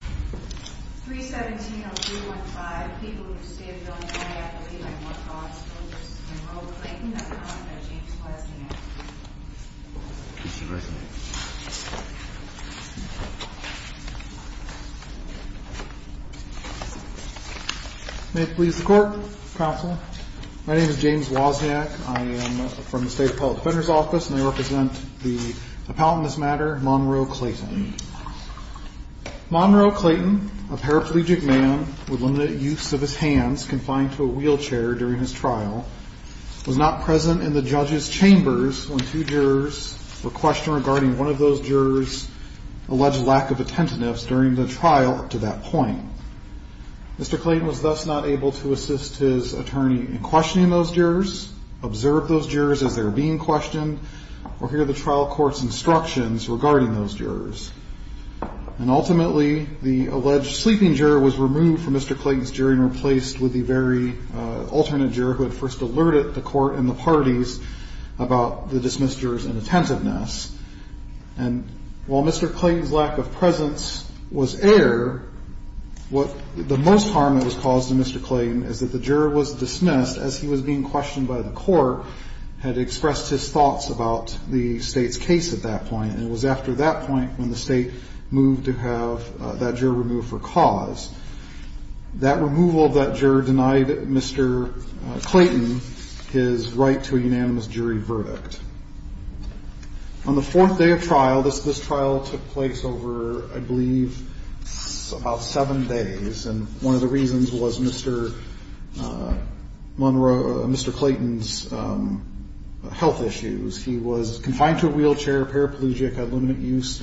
317-0315, people who say that Bill Nye will be like Monroe Clayton, that's a comment by James Wozniak. May it please the Court, Counsel. My name is James Wozniak. I am from the State Appellate Defender's Office, and I represent the appellant in this matter, Monroe Clayton. Monroe Clayton, a paraplegic man with limited use of his hands confined to a wheelchair during his trial, was not present in the judge's chambers when two jurors were questioned regarding one of those jurors' alleged lack of attentiveness during the trial up to that point. Mr. Clayton was thus not able to assist his attorney in questioning those jurors, observe those jurors as they were being questioned, or hear the trial court's instructions regarding those jurors. And ultimately, the alleged sleeping juror was removed from Mr. Clayton's jury and replaced with the very alternate juror who had first alerted the court and the parties about the dismissed jurors' inattentiveness. And while Mr. Clayton's lack of presence was air, the most harm that was caused to Mr. Clayton is that the juror was dismissed as he was being questioned by the court, had expressed his thoughts about the State's case at that point. And it was after that point when the State moved to have that juror removed for cause. That removal of that juror denied Mr. Clayton his right to a unanimous jury verdict. On the fourth day of trial, this trial took place over, I believe, about seven days, and one of the reasons was Mr. Clayton's health issues. He was confined to a wheelchair, paraplegic, had limited use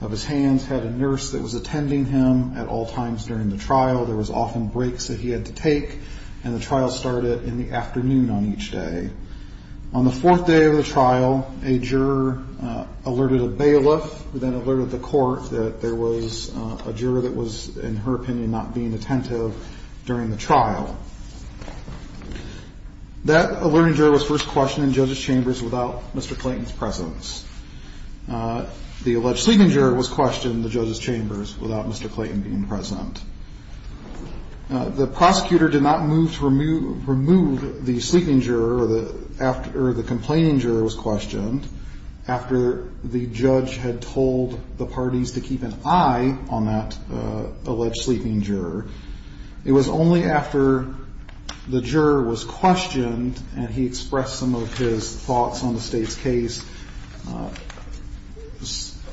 of his hands, had a nurse that was attending him at all times during the trial. There was often breaks that he had to take, and the trial started in the afternoon on each day. On the fourth day of the trial, a juror alerted a bailiff who then alerted the court that there was a juror that was, in her opinion, not being attentive during the trial. That alerting juror was first questioned in judges' chambers without Mr. Clayton's presence. The alleged sleeping juror was questioned in the judges' chambers without Mr. Clayton being present. The prosecutor did not move to remove the sleeping juror after the complaining juror was questioned, after the judge had told the parties to keep an eye on that alleged sleeping juror. It was only after the juror was questioned and he expressed some of his thoughts on the state's case,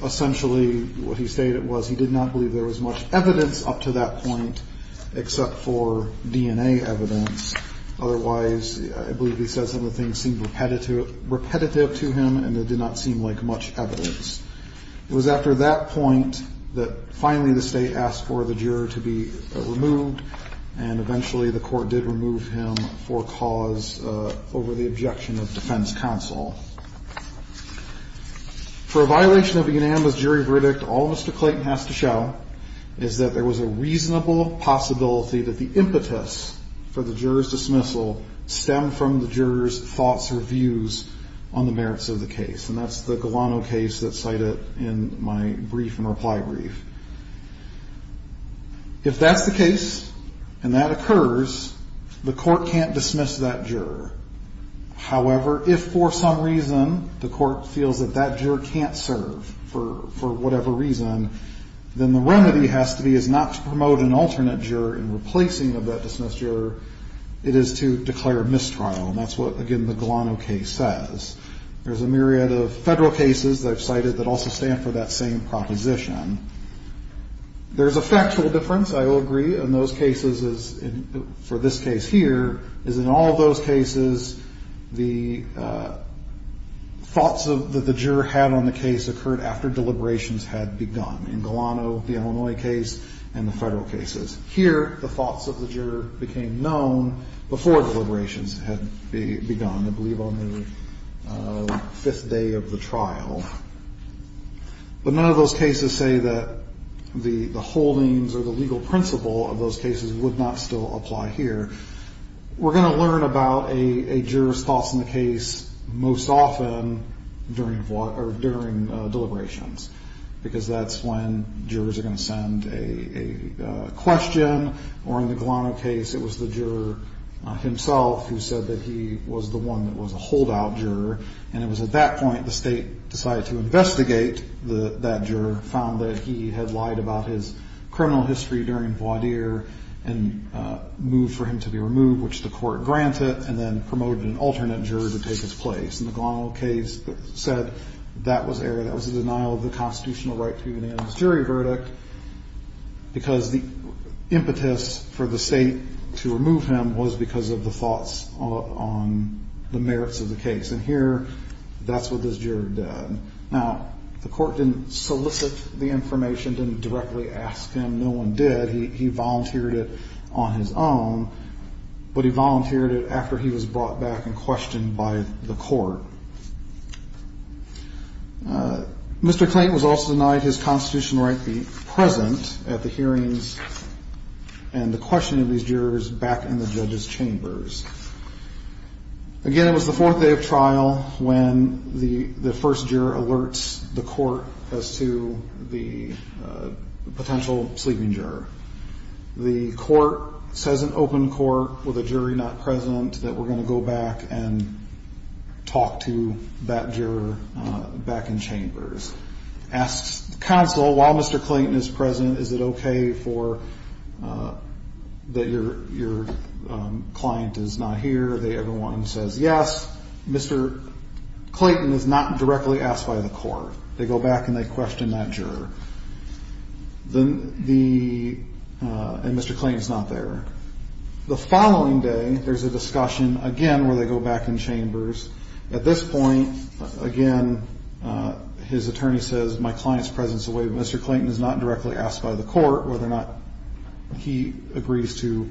essentially what he stated was he did not believe there was much evidence up to that point except for DNA evidence. Otherwise, I believe he said some of the things seemed repetitive to him, and there did not seem like much evidence. It was after that point that finally the state asked for the juror to be removed, and eventually the court did remove him for cause over the objection of defense counsel. For a violation of a unanimous jury verdict, all Mr. Clayton has to show is that there was a reasonable possibility that the impetus for the juror's dismissal stemmed from the juror's thoughts or views on the merits of the case. And that's the Galano case that's cited in my brief and reply brief. If that's the case and that occurs, the court can't dismiss that juror. However, if for some reason the court feels that that juror can't serve for whatever reason, then the remedy has to be is not to promote an alternate juror in replacing of that dismissed juror. It is to declare mistrial, and that's what, again, the Galano case says. There's a myriad of Federal cases that I've cited that also stand for that same proposition. There's a factual difference, I will agree, in those cases as in for this case here, is in all of those cases, the thoughts that the juror had on the case occurred after deliberations had begun. In Galano, the Illinois case, and the Federal cases. Here, the thoughts of the juror became known before deliberations had begun, I believe on the fifth day of the trial. But none of those cases say that the holdings or the legal principle of those cases would not still apply here. We're going to learn about a juror's thoughts on the case most often during deliberations, because that's when jurors are going to send a question. Or in the Galano case, it was the juror himself who said that he was the one that was a holdout juror. And it was at that point the state decided to investigate that juror, found that he had lied about his criminal history during voir dire, and moved for him to be removed, which the court granted, and then promoted an alternate juror to take his place. And the Galano case said that was a denial of the constitutional right to be made in this jury verdict, because the impetus for the state to remove him was because of the thoughts on the merits of the case. And here, that's what this juror did. Now, the court didn't solicit the information, didn't directly ask him. No one did. He volunteered it on his own, but he volunteered it after he was brought back and questioned by the court. Mr. Clayton was also denied his constitutional right to be present at the hearings and the questioning of these jurors back in the judges' chambers. Again, it was the fourth day of trial when the first juror alerts the court as to the potential sleeping juror. The court says in open court, with a jury not present, that we're going to go back and talk to that juror back in chambers. Asks the counsel, while Mr. Clayton is present, is it okay that your client is not here? Everyone says yes. Mr. Clayton is not directly asked by the court. They go back and they question that juror. And Mr. Clayton is not there. The following day, there's a discussion again where they go back in chambers. At this point, again, his attorney says my client's presence is a waive. Mr. Clayton is not directly asked by the court whether or not he agrees to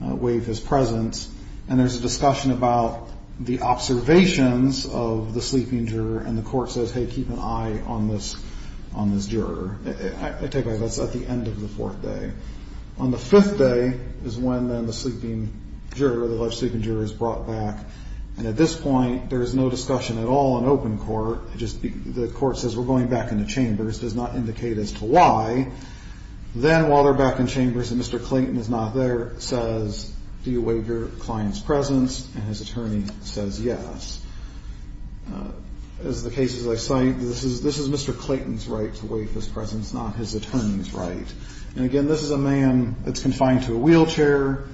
waive his presence. And there's a discussion about the observations of the sleeping juror, and the court says, hey, keep an eye on this juror. I take it that's at the end of the fourth day. On the fifth day is when then the sleeping juror, the alleged sleeping juror, is brought back. And at this point, there is no discussion at all in open court. The court says we're going back into chambers, does not indicate as to why. Then while they're back in chambers and Mr. Clayton is not there, says, do you waive your client's presence? And his attorney says yes. As the cases I cite, this is Mr. Clayton's right to waive his presence, not his attorney's right. And, again, this is a man that's confined to a wheelchair.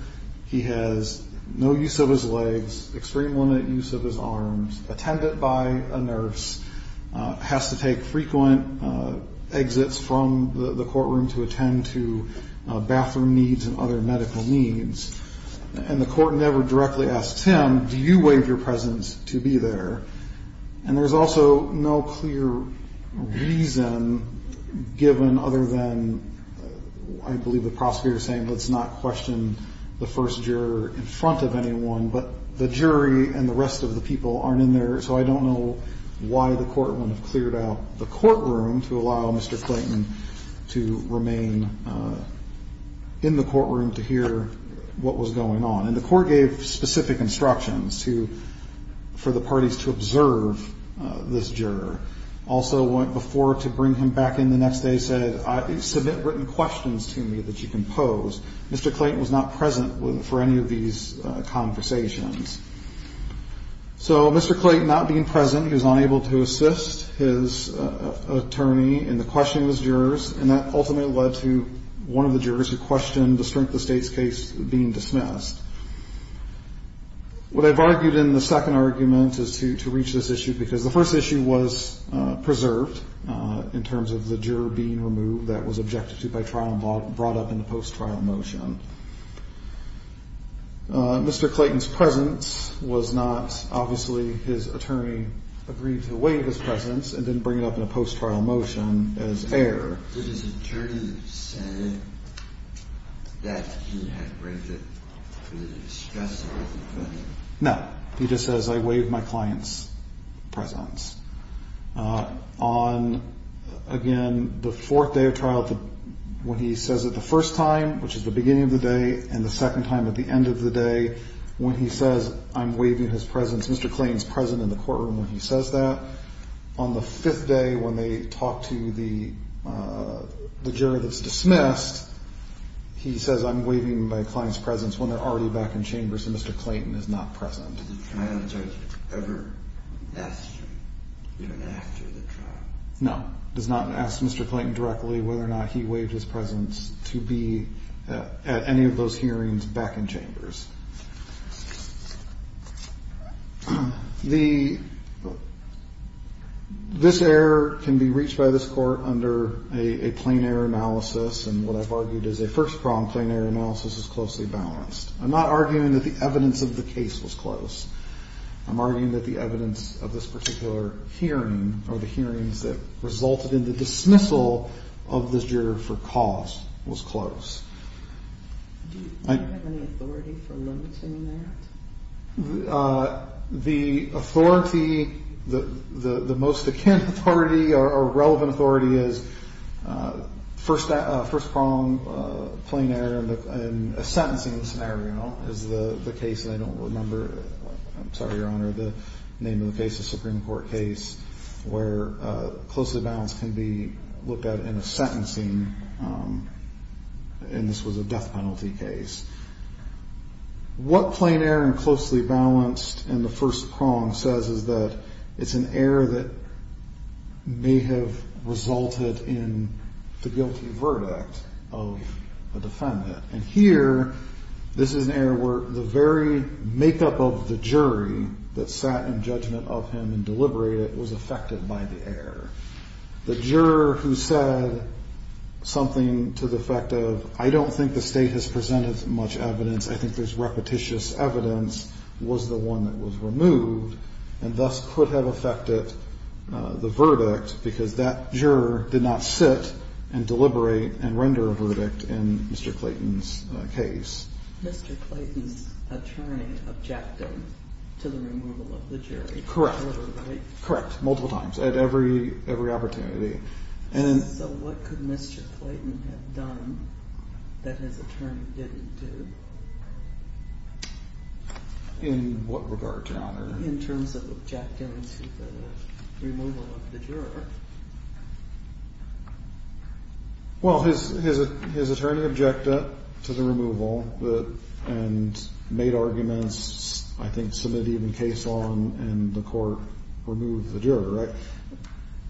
He has no use of his legs, extreme limited use of his arms, attended by a nurse, has to take frequent exits from the courtroom to attend to bathroom needs and other medical needs. And the court never directly asks him, do you waive your presence to be there? And there's also no clear reason given other than I believe the prosecutor is saying let's not question the first juror in front of anyone. But the jury and the rest of the people aren't in there, so I don't know why the court wouldn't have cleared out the courtroom to allow Mr. Clayton to remain in the courtroom to hear what was going on. And the court gave specific instructions for the parties to observe this juror. Also went before to bring him back in the next day, said, submit written questions to me that you can pose. Mr. Clayton was not present for any of these conversations. So Mr. Clayton not being present, he was unable to assist his attorney in the questioning of his jurors, and that ultimately led to one of the jurors who questioned the strength of the state's case being dismissed. What I've argued in the second argument is to reach this issue because the first issue was preserved in terms of the juror being removed that was objected to by trial and brought up in the post-trial motion. Mr. Clayton's presence was not obviously his attorney agreed to waive his presence and didn't bring it up in a post-trial motion as error. No. He just says, I waive my client's presence. On, again, the fourth day of trial, when he says it the first time, which is the beginning of the day, and the second time at the end of the day, when he says, I'm waiving his presence, Mr. Clayton's present in the courtroom when he says that. On the fifth day, when they talk to the juror that's dismissed, he says, I'm waiving my client's presence when they're already back in chambers, and Mr. Clayton is not present. No. Does not ask Mr. Clayton directly whether or not he waived his presence to be at any of those hearings back in chambers. This error can be reached by this court under a plain error analysis, and what I've argued is a first-pronged plain error analysis is closely balanced. I'm not arguing that the evidence of the case was close. I'm arguing that the evidence of this particular hearing or the hearings that resulted in the dismissal of this juror for cause was close. Do you have any authority for limiting that? The authority, the most akin authority or relevant authority is first-pronged plain error in a sentencing scenario is the case that I don't remember. I'm sorry, Your Honor, the name of the case, the Supreme Court case, where closely balanced can be looked at in a sentencing, and this was a death penalty case. What plain error and closely balanced in the first prong says is that it's an error that may have resulted in the dismissal of Mr. Clayton. And here, this is an error where the very makeup of the jury that sat in judgment of him and deliberated was affected by the error. The juror who said something to the effect of, I don't think the State has presented much evidence, I think there's repetitious evidence, was the one that was removed, and thus could have affected the verdict because that juror did not sit and deliberate and render a verdict in Mr. Clayton's case. Mr. Clayton's attorney objected to the removal of the jury. Correct. Correct. Multiple times at every opportunity. So what could Mr. Clayton have done that his attorney didn't do? In what regard, Your Honor? In terms of objecting to the removal of the juror. Well, his attorney objected to the removal and made arguments, I think, to the extent that he could submit even case law and the court remove the juror,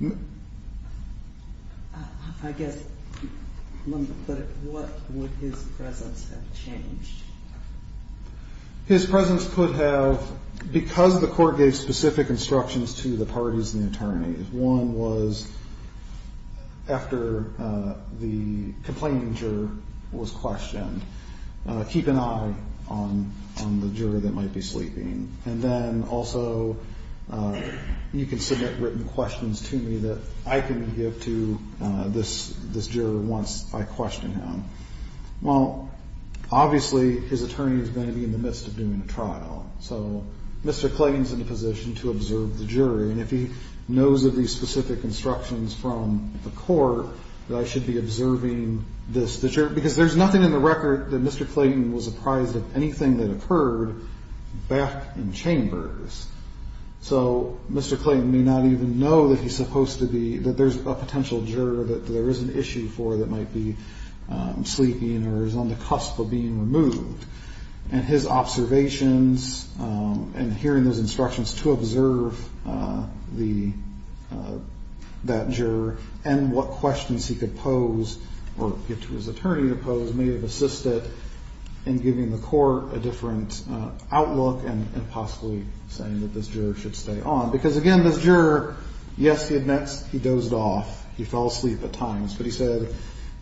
right? I guess, but what would his presence have changed? His presence could have, because the court gave specific instructions to the parties and the attorney, one was after the complaining juror was questioned, keep an eye on the juror that might be sleeping, and then also you can submit written questions to me that I can give to this juror once I question him. Well, obviously his attorney is going to be in the midst of doing a trial, so Mr. Clayton's in a position to observe the jury, and if he knows of these specific instructions from the court, that I should be observing the juror, because there's nothing in the record that Mr. Clayton was apprised of anything that occurred back in chambers. So Mr. Clayton may not even know that he's supposed to be, that there's a potential juror that there is an issue for that might be sleeping or is on the cusp of being removed. And his observations and hearing those instructions to observe that juror and what questions he could pose, or give to his attorney to pose, may have assisted in giving the court a different outlook and possibly saying that this juror should stay on. Because again, this juror, yes, he admits he dozed off, he fell asleep at times, but he said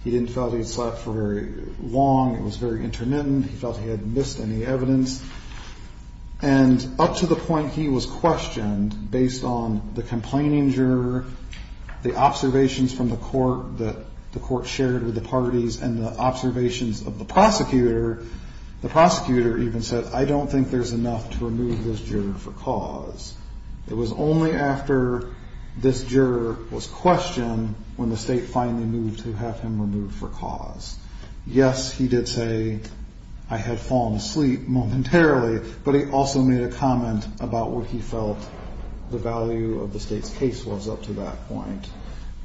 he didn't feel he slept for very long, it was very intermittent, he felt he hadn't missed any evidence. And up to the point he was questioned, based on the complaining juror, the observations from the court that the court shared with the parties, and the observations of the prosecutor, the prosecutor even said, I don't think there's enough to remove this juror for cause. It was only after this juror was questioned when the state finally moved to have him removed for cause. Yes, he did say I had fallen asleep momentarily, but he also made a comment about what he felt the value of the state's case was up to that point.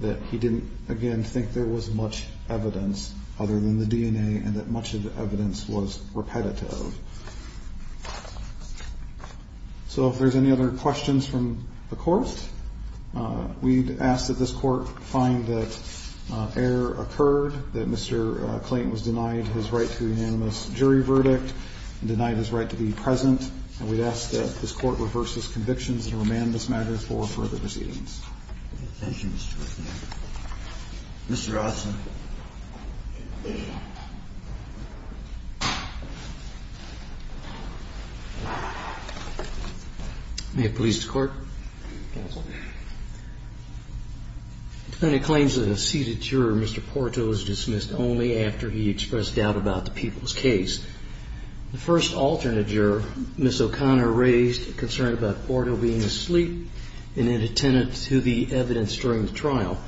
That he didn't, again, think there was much evidence other than the DNA, and that much of the evidence was repetitive. So if there's any other questions from the Court, we'd ask that this Court find that error occurred, that Mr. Clayton was denied his right to a unanimous jury verdict, denied his right to be present, and we'd ask that this Court reverse his convictions and remand this matter for further proceedings. Thank you, Mr. Whitman. Mr. Rothson. May it please the Court. The defendant claims that a seated juror, Mr. Porto, was dismissed only after he expressed doubt about the people's case. The first alternate juror, Ms. O'Connor, raised a concern about Porto being asleep and inattentive to the evidence during the trial.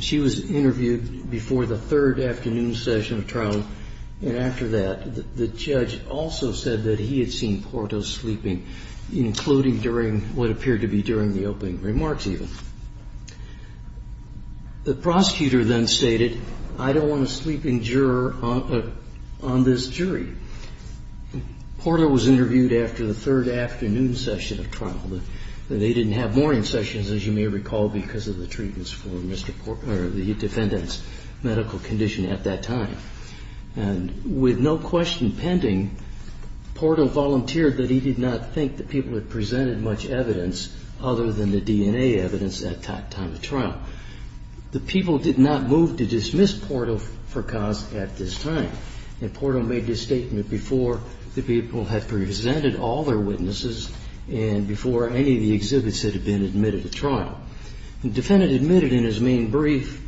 She was interviewed before the third afternoon session of trial, and after that, the judge also said that he had seen Porto sleeping, including during what appeared to be during the opening remarks, even. The prosecutor then stated, I don't want a sleeping juror on this jury. Porto was interviewed after the third afternoon session of trial. They didn't have morning sessions, as you may recall, because of the treatments for the defendant's medical condition at that time. And with no question pending, Porto volunteered that he did not think the people had presented much evidence other than the DNA evidence at that time of trial. The people did not move to dismiss Porto for cause at this time. And Porto made this statement before the people had presented all their witnesses and before any of the exhibits had been admitted to trial. The defendant admitted in his main brief,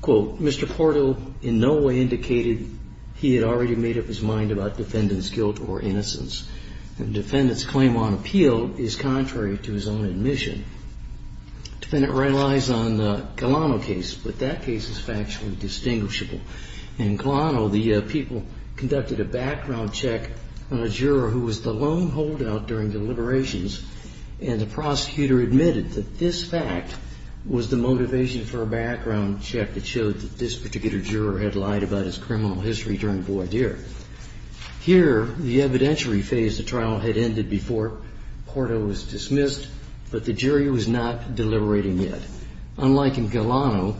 quote, Mr. Porto in no way indicated he had already made up his mind about defendant's guilt or innocence. The defendant's claim on appeal is contrary to his own admission. The defendant relies on the Colano case, but that case is factually distinguishable. In Colano, the people conducted a background check on a juror who was the lone holdout during deliberations, and the prosecutor admitted that this fact was the motivation for a background check that showed that this particular phase of trial had ended before Porto was dismissed, but the jury was not deliberating yet. Unlike in Colano,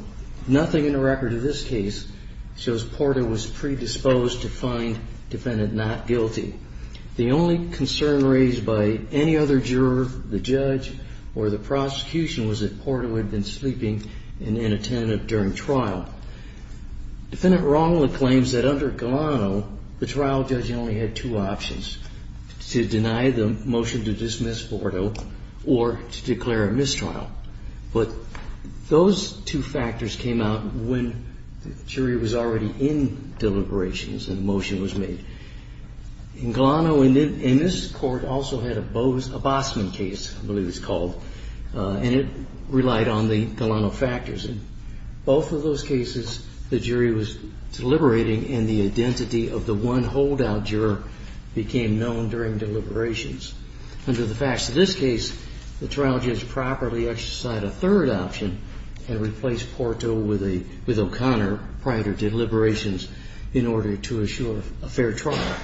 nothing in the record of this case shows Porto was predisposed to find defendant not guilty. The only concern raised by any other juror, the judge, or the prosecution was that Porto had been sleeping and inattentive during trial. Defendant Romola claims that under Colano, the trial judge only had two options, to deny the motion to dismiss Porto or to declare a mistrial, but those two factors came out when the jury was already in deliberations and a motion was made. In Colano, and this court also had a Bosman case, I believe it was called, and it relied on the jury was deliberating and the identity of the one holdout juror became known during deliberations. Under the facts of this case, the trial judge properly exercised a third option and replaced Porto with O'Connor prior to deliberations in order to assure a fair trial.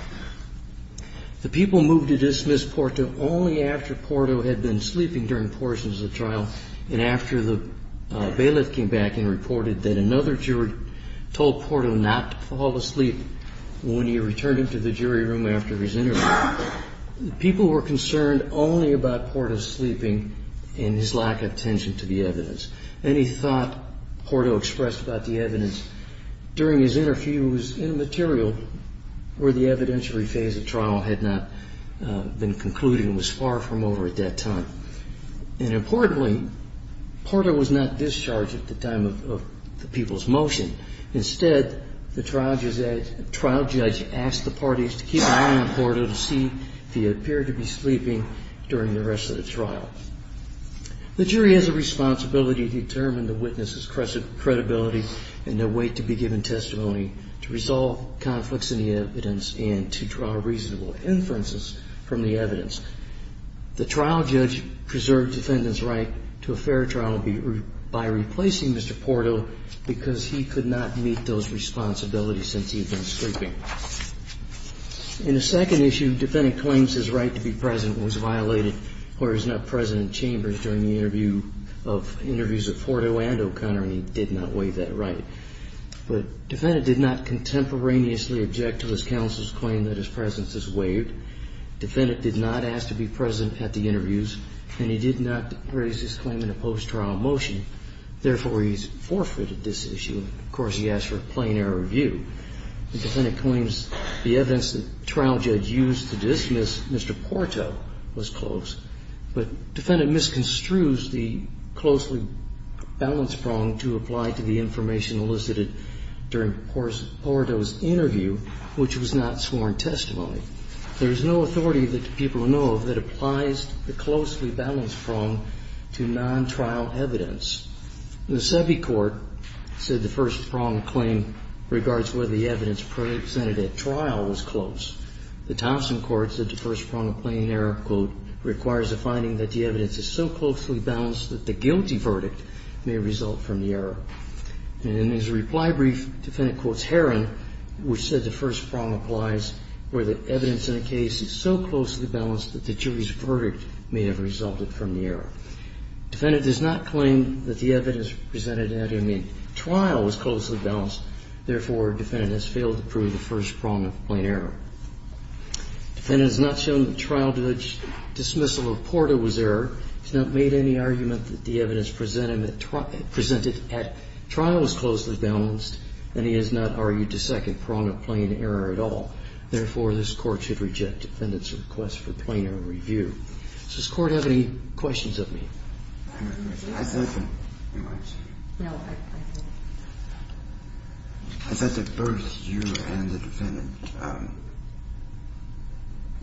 The people moved to dismiss Porto only after Porto had been sleeping during portions of the trial and after the bailiff came back and reported that another jury told Porto not to fall asleep when he returned into the jury room after his interview. People were concerned only about Porto's sleeping and his lack of attention to the evidence. Any thought Porto expressed about the evidence during his interview was immaterial where the evidentiary phase of trial had not been concluded and was far from over at that time. And importantly, Porto was not discharged at the time of the people's motion. Instead, the trial judge asked the parties to keep an eye on Porto to see if he appeared to be sleeping during the rest of the trial. The jury has a responsibility to wait to be given testimony to resolve conflicts in the evidence and to draw reasonable inferences from the evidence. The trial judge preserved defendant's right to a fair trial by replacing Mr. Porto because he could not meet those responsibilities since he had been sleeping. In the second issue, defendant claims his right to be present was violated when he was not present in chambers during the interviews of Porto and O'Connor, and he did not waive that right. But defendant did not contemporaneously object to his counsel's claim that his presence is waived. Defendant did not ask to be present at the interviews, and he did not raise his claim in a post-trial motion. Therefore, he's forfeited this issue. Of course, he asked for a plain error of view. The defendant claims the evidence the trial judge used to dismiss Mr. Porto was close. But defendant misconstrues the closely balanced prong to apply to the information elicited during Porto's interview, which was not sworn testimony. There is no authority that the people know of that applies the closely balanced prong to non-trial evidence. The Sebi court said the first prong claim regards whether the evidence presented at trial was close. The Thompson court said the first prong of plain error, quote, requires a finding that the evidence is so closely balanced that the guilty verdict may result from the error. And in his reply brief, defendant quotes Herron, which said the first prong applies where the evidence in a case is so closely balanced that the jury's verdict may have resulted from the error. Defendant does not claim that the evidence presented at him in trial was closely balanced. Therefore, defendant has failed to prove the first prong of plain error. Defendant has not shown that trial judge dismissal of Porto was error. He's not made any argument that the evidence presented at trial was closely balanced, and he has not argued to second prong of plain error at all. Therefore, this Court should reject defendant's request for plain error review. Does this Court have any questions of me? No. I thought that both you and the defendant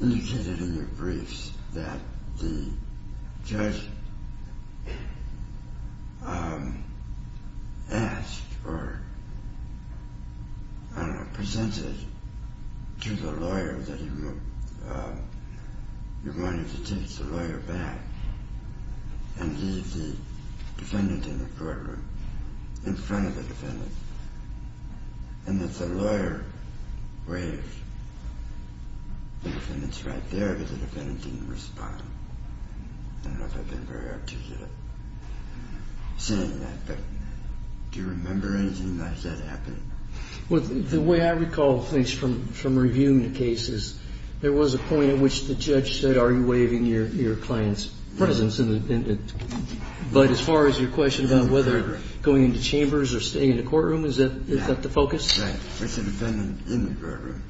indicated in your briefs that the judge asked or presented to the lawyer that he wanted to take the lawyer back and leave the defendant in the courtroom in front of the defendant and that the lawyer waved the defendant's right there, but the defendant didn't respond. I don't know if I've been very articulate in saying that, but do you remember anything like that happening? Well, the way I recall things from reviewing the case is there was a point at which the judge said, are you waving your client's presence? But as far as your question about whether going into chambers or staying in the courtroom, is that the focus? Right. With the defendant in the courtroom.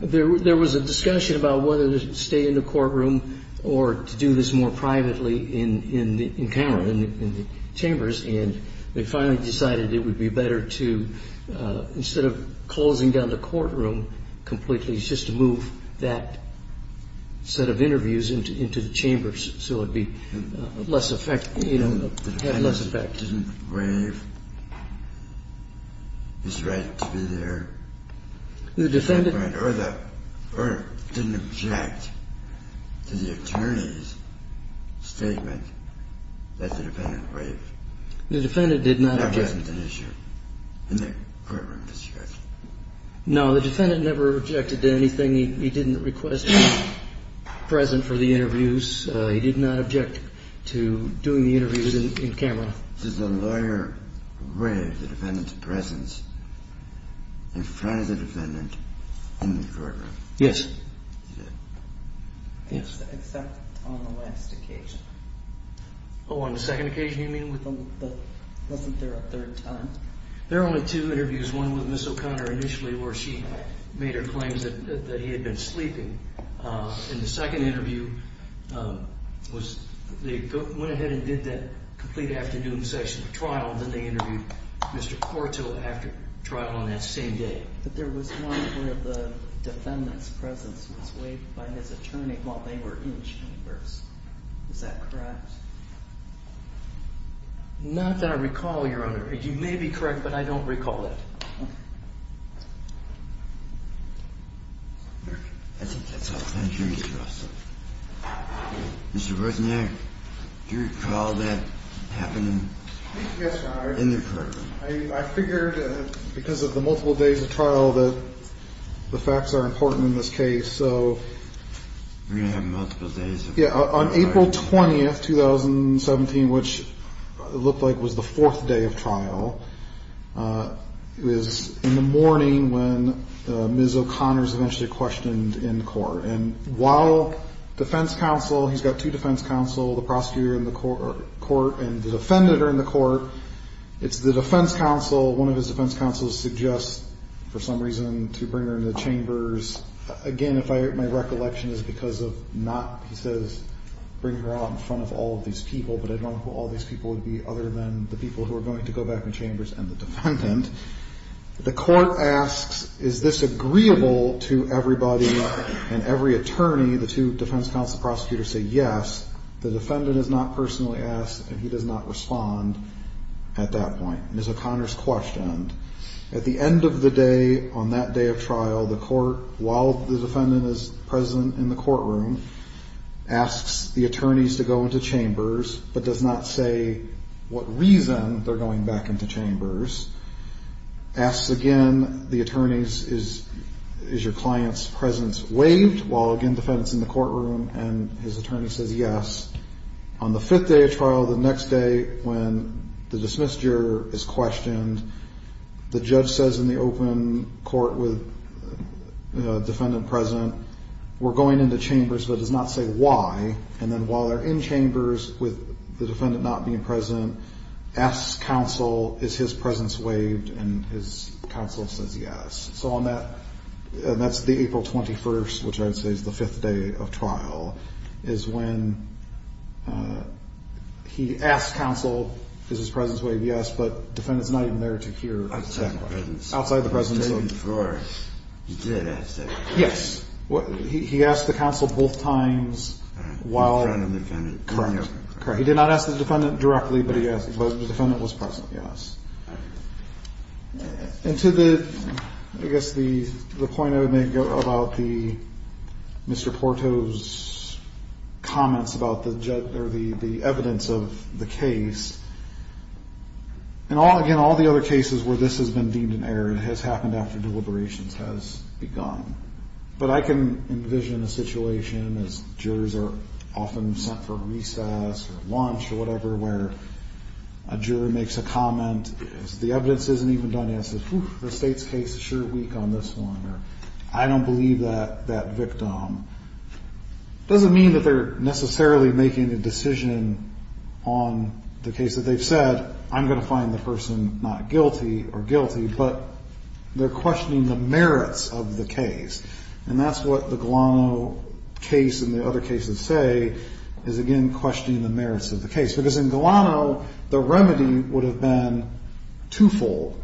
There was a discussion about whether to stay in the courtroom or to do this more privately in the encounter, in the chambers, and they finally decided it would be better to, instead of closing down the courtroom completely, just to move that set of interviews into the chambers so it would be less effective, you know, have less effect. The defendant didn't wave his right to be there. The defendant didn't object to the attorney's statement that the defendant waved. The defendant did not object. That wasn't an issue in the courtroom discussion. No, the defendant never objected to anything. He didn't request presence for the interviews. He did not object to doing the interviews in camera. Did the lawyer wave the defendant's presence in front of the defendant in the courtroom? Yes. He did? Yes. Except on the last occasion. Oh, on the second occasion you mean? Wasn't there a third time? There were only two interviews, one with Ms. O'Connor initially where she made her claims that he had been sleeping. In the second interview, they went ahead and did that complete afternoon session of trial and then they interviewed Mr. Corto after trial on that same day. But there was one where the defendant's presence was waved by his attorney while they were in chambers. Is that correct? Not that I recall, Your Honor. You may be correct, but I don't recall that. Okay. I think that's all the time the jury has for us. Mr. Bresnik, do you recall that happening in the courtroom? Yes, Your Honor. I figured because of the multiple days of trial that the facts are important in this case, so... On April 20th, 2017, which looked like was the fourth day of trial, it was in the morning when Ms. O'Connor was eventually questioned in court. And while defense counsel, he's got two defense counsel, the prosecutor in the court and the defendant are in the court, it's the defense counsel, one of his defense counsels suggests for some reason to bring her into the chambers. Again, if my recollection is because of not, he says, bring her out in front of all of these people, but I don't know who all these people would be other than the people who are going to go back in chambers and the defendant. The court asks, is this agreeable to everybody and every attorney? The two defense counsel prosecutors say yes. The defendant is not personally asked and he does not respond at that point. Ms. O'Connor's questioned. At the end of the day, on that day of trial, the court, while the defendant is present in the courtroom, asks the attorneys to go into chambers, but does not say what reason they're going back into chambers. Asks again, the attorneys, is your client's presence waived? While again, the defendant's in the courtroom and his attorney says yes. On the fifth day of trial, the next day when the dismissed juror is questioned, the judge says in the open court with defendant present, we're going into chambers, but does not say why. And then while they're in chambers with the defendant not being present, asks counsel, is his presence waived? And his counsel says yes. So on that, and that's the April 21st, which I would say is the fifth day of trial, is when he asks counsel, is his presence waived? Yes, but defendant's not even there to hear. Outside the presence. Outside the presence. He did ask that question. Yes. He asked the counsel both times while. In front of the defendant. Correct. He did not ask the defendant directly, but the defendant was present. Yes. And to the, I guess the point I would make about the, Mr. Porto's comments about the evidence of the case, and again, all the other cases where this has been deemed an error has happened after deliberations has begun. But I can envision a situation as jurors are often sent for recess or lunch or whatever, where a juror makes a comment, the evidence isn't even done yet, says, whew, the State's case is sure weak on this one, or I don't believe that victim. Doesn't mean that they're necessarily making a decision on the case that they've said, I'm going to find the person not guilty or guilty, but they're questioning the merits of the case. And that's what the Galano case and the other cases say is, again, questioning the merits of the case. Because in Galano, the remedy would have been twofold,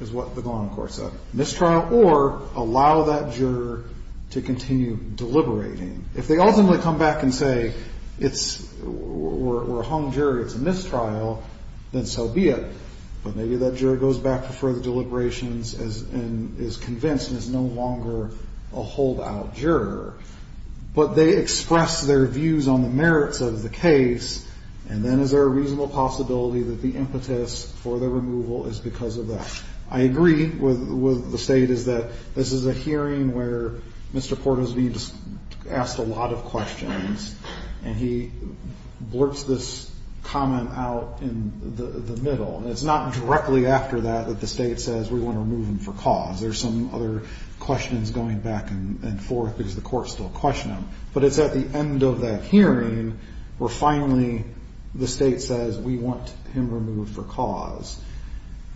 is what the Galano court said, mistrial or allow that juror to continue deliberating. If they ultimately come back and say it's, we're a hung jury, it's a mistrial, then so be it. But maybe that juror goes back for further deliberations and is convinced and is no longer a holdout juror. But they express their views on the merits of the case, and then is there a reasonable possibility that the impetus for the removal is because of that. I agree with the State is that this is a hearing where Mr. Porter is being asked a lot of questions, and he blurts this comment out in the middle. And it's not directly after that that the State says, we want to remove him for cause. There's some other questions going back and forth because the courts still question him. But it's at the end of that hearing where finally the State says, we want him removed for cause.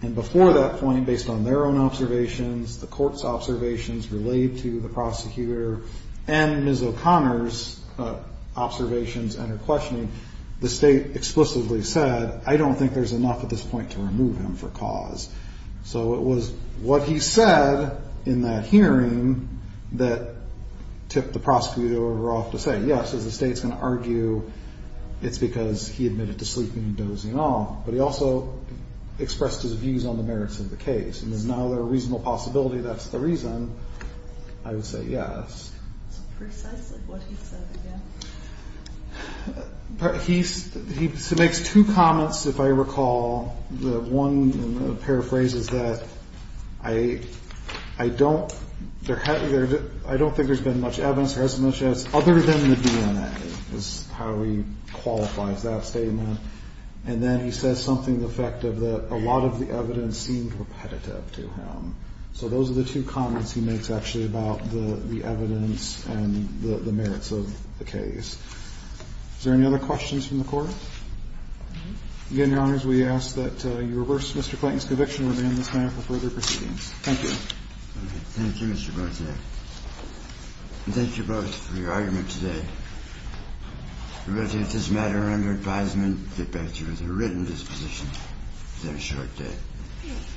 And before that point, based on their own observations, the court's observations related to the prosecutor and Ms. O'Connor's observations and her questioning, the State explicitly said, I don't think there's enough at this point to remove him for cause. So it was what he said in that hearing that tipped the prosecutor over off to say yes. Is the State going to argue it's because he admitted to sleeping and dozing off? But he also expressed his views on the merits of the case. And is now there a reasonable possibility that's the reason, I would say yes. So precisely what he said again. He makes two comments, if I recall. The one paraphrases that, I don't think there's been much evidence or as much as other than the DNA, is how he qualifies that statement. And then he says something to the effect of that a lot of the evidence seemed repetitive to him. So those are the two comments he makes, actually, about the evidence and the merits of the case. Is there any other questions from the Court? Again, Your Honors, we ask that you reverse Mr. Clayton's conviction. We'll be in this manner for further proceedings. Thank you. Thank you, Mr. Berthe. And thank you both for your argument today. We will take this matter under advisement and get back to you with a written disposition within a short day. Thank you.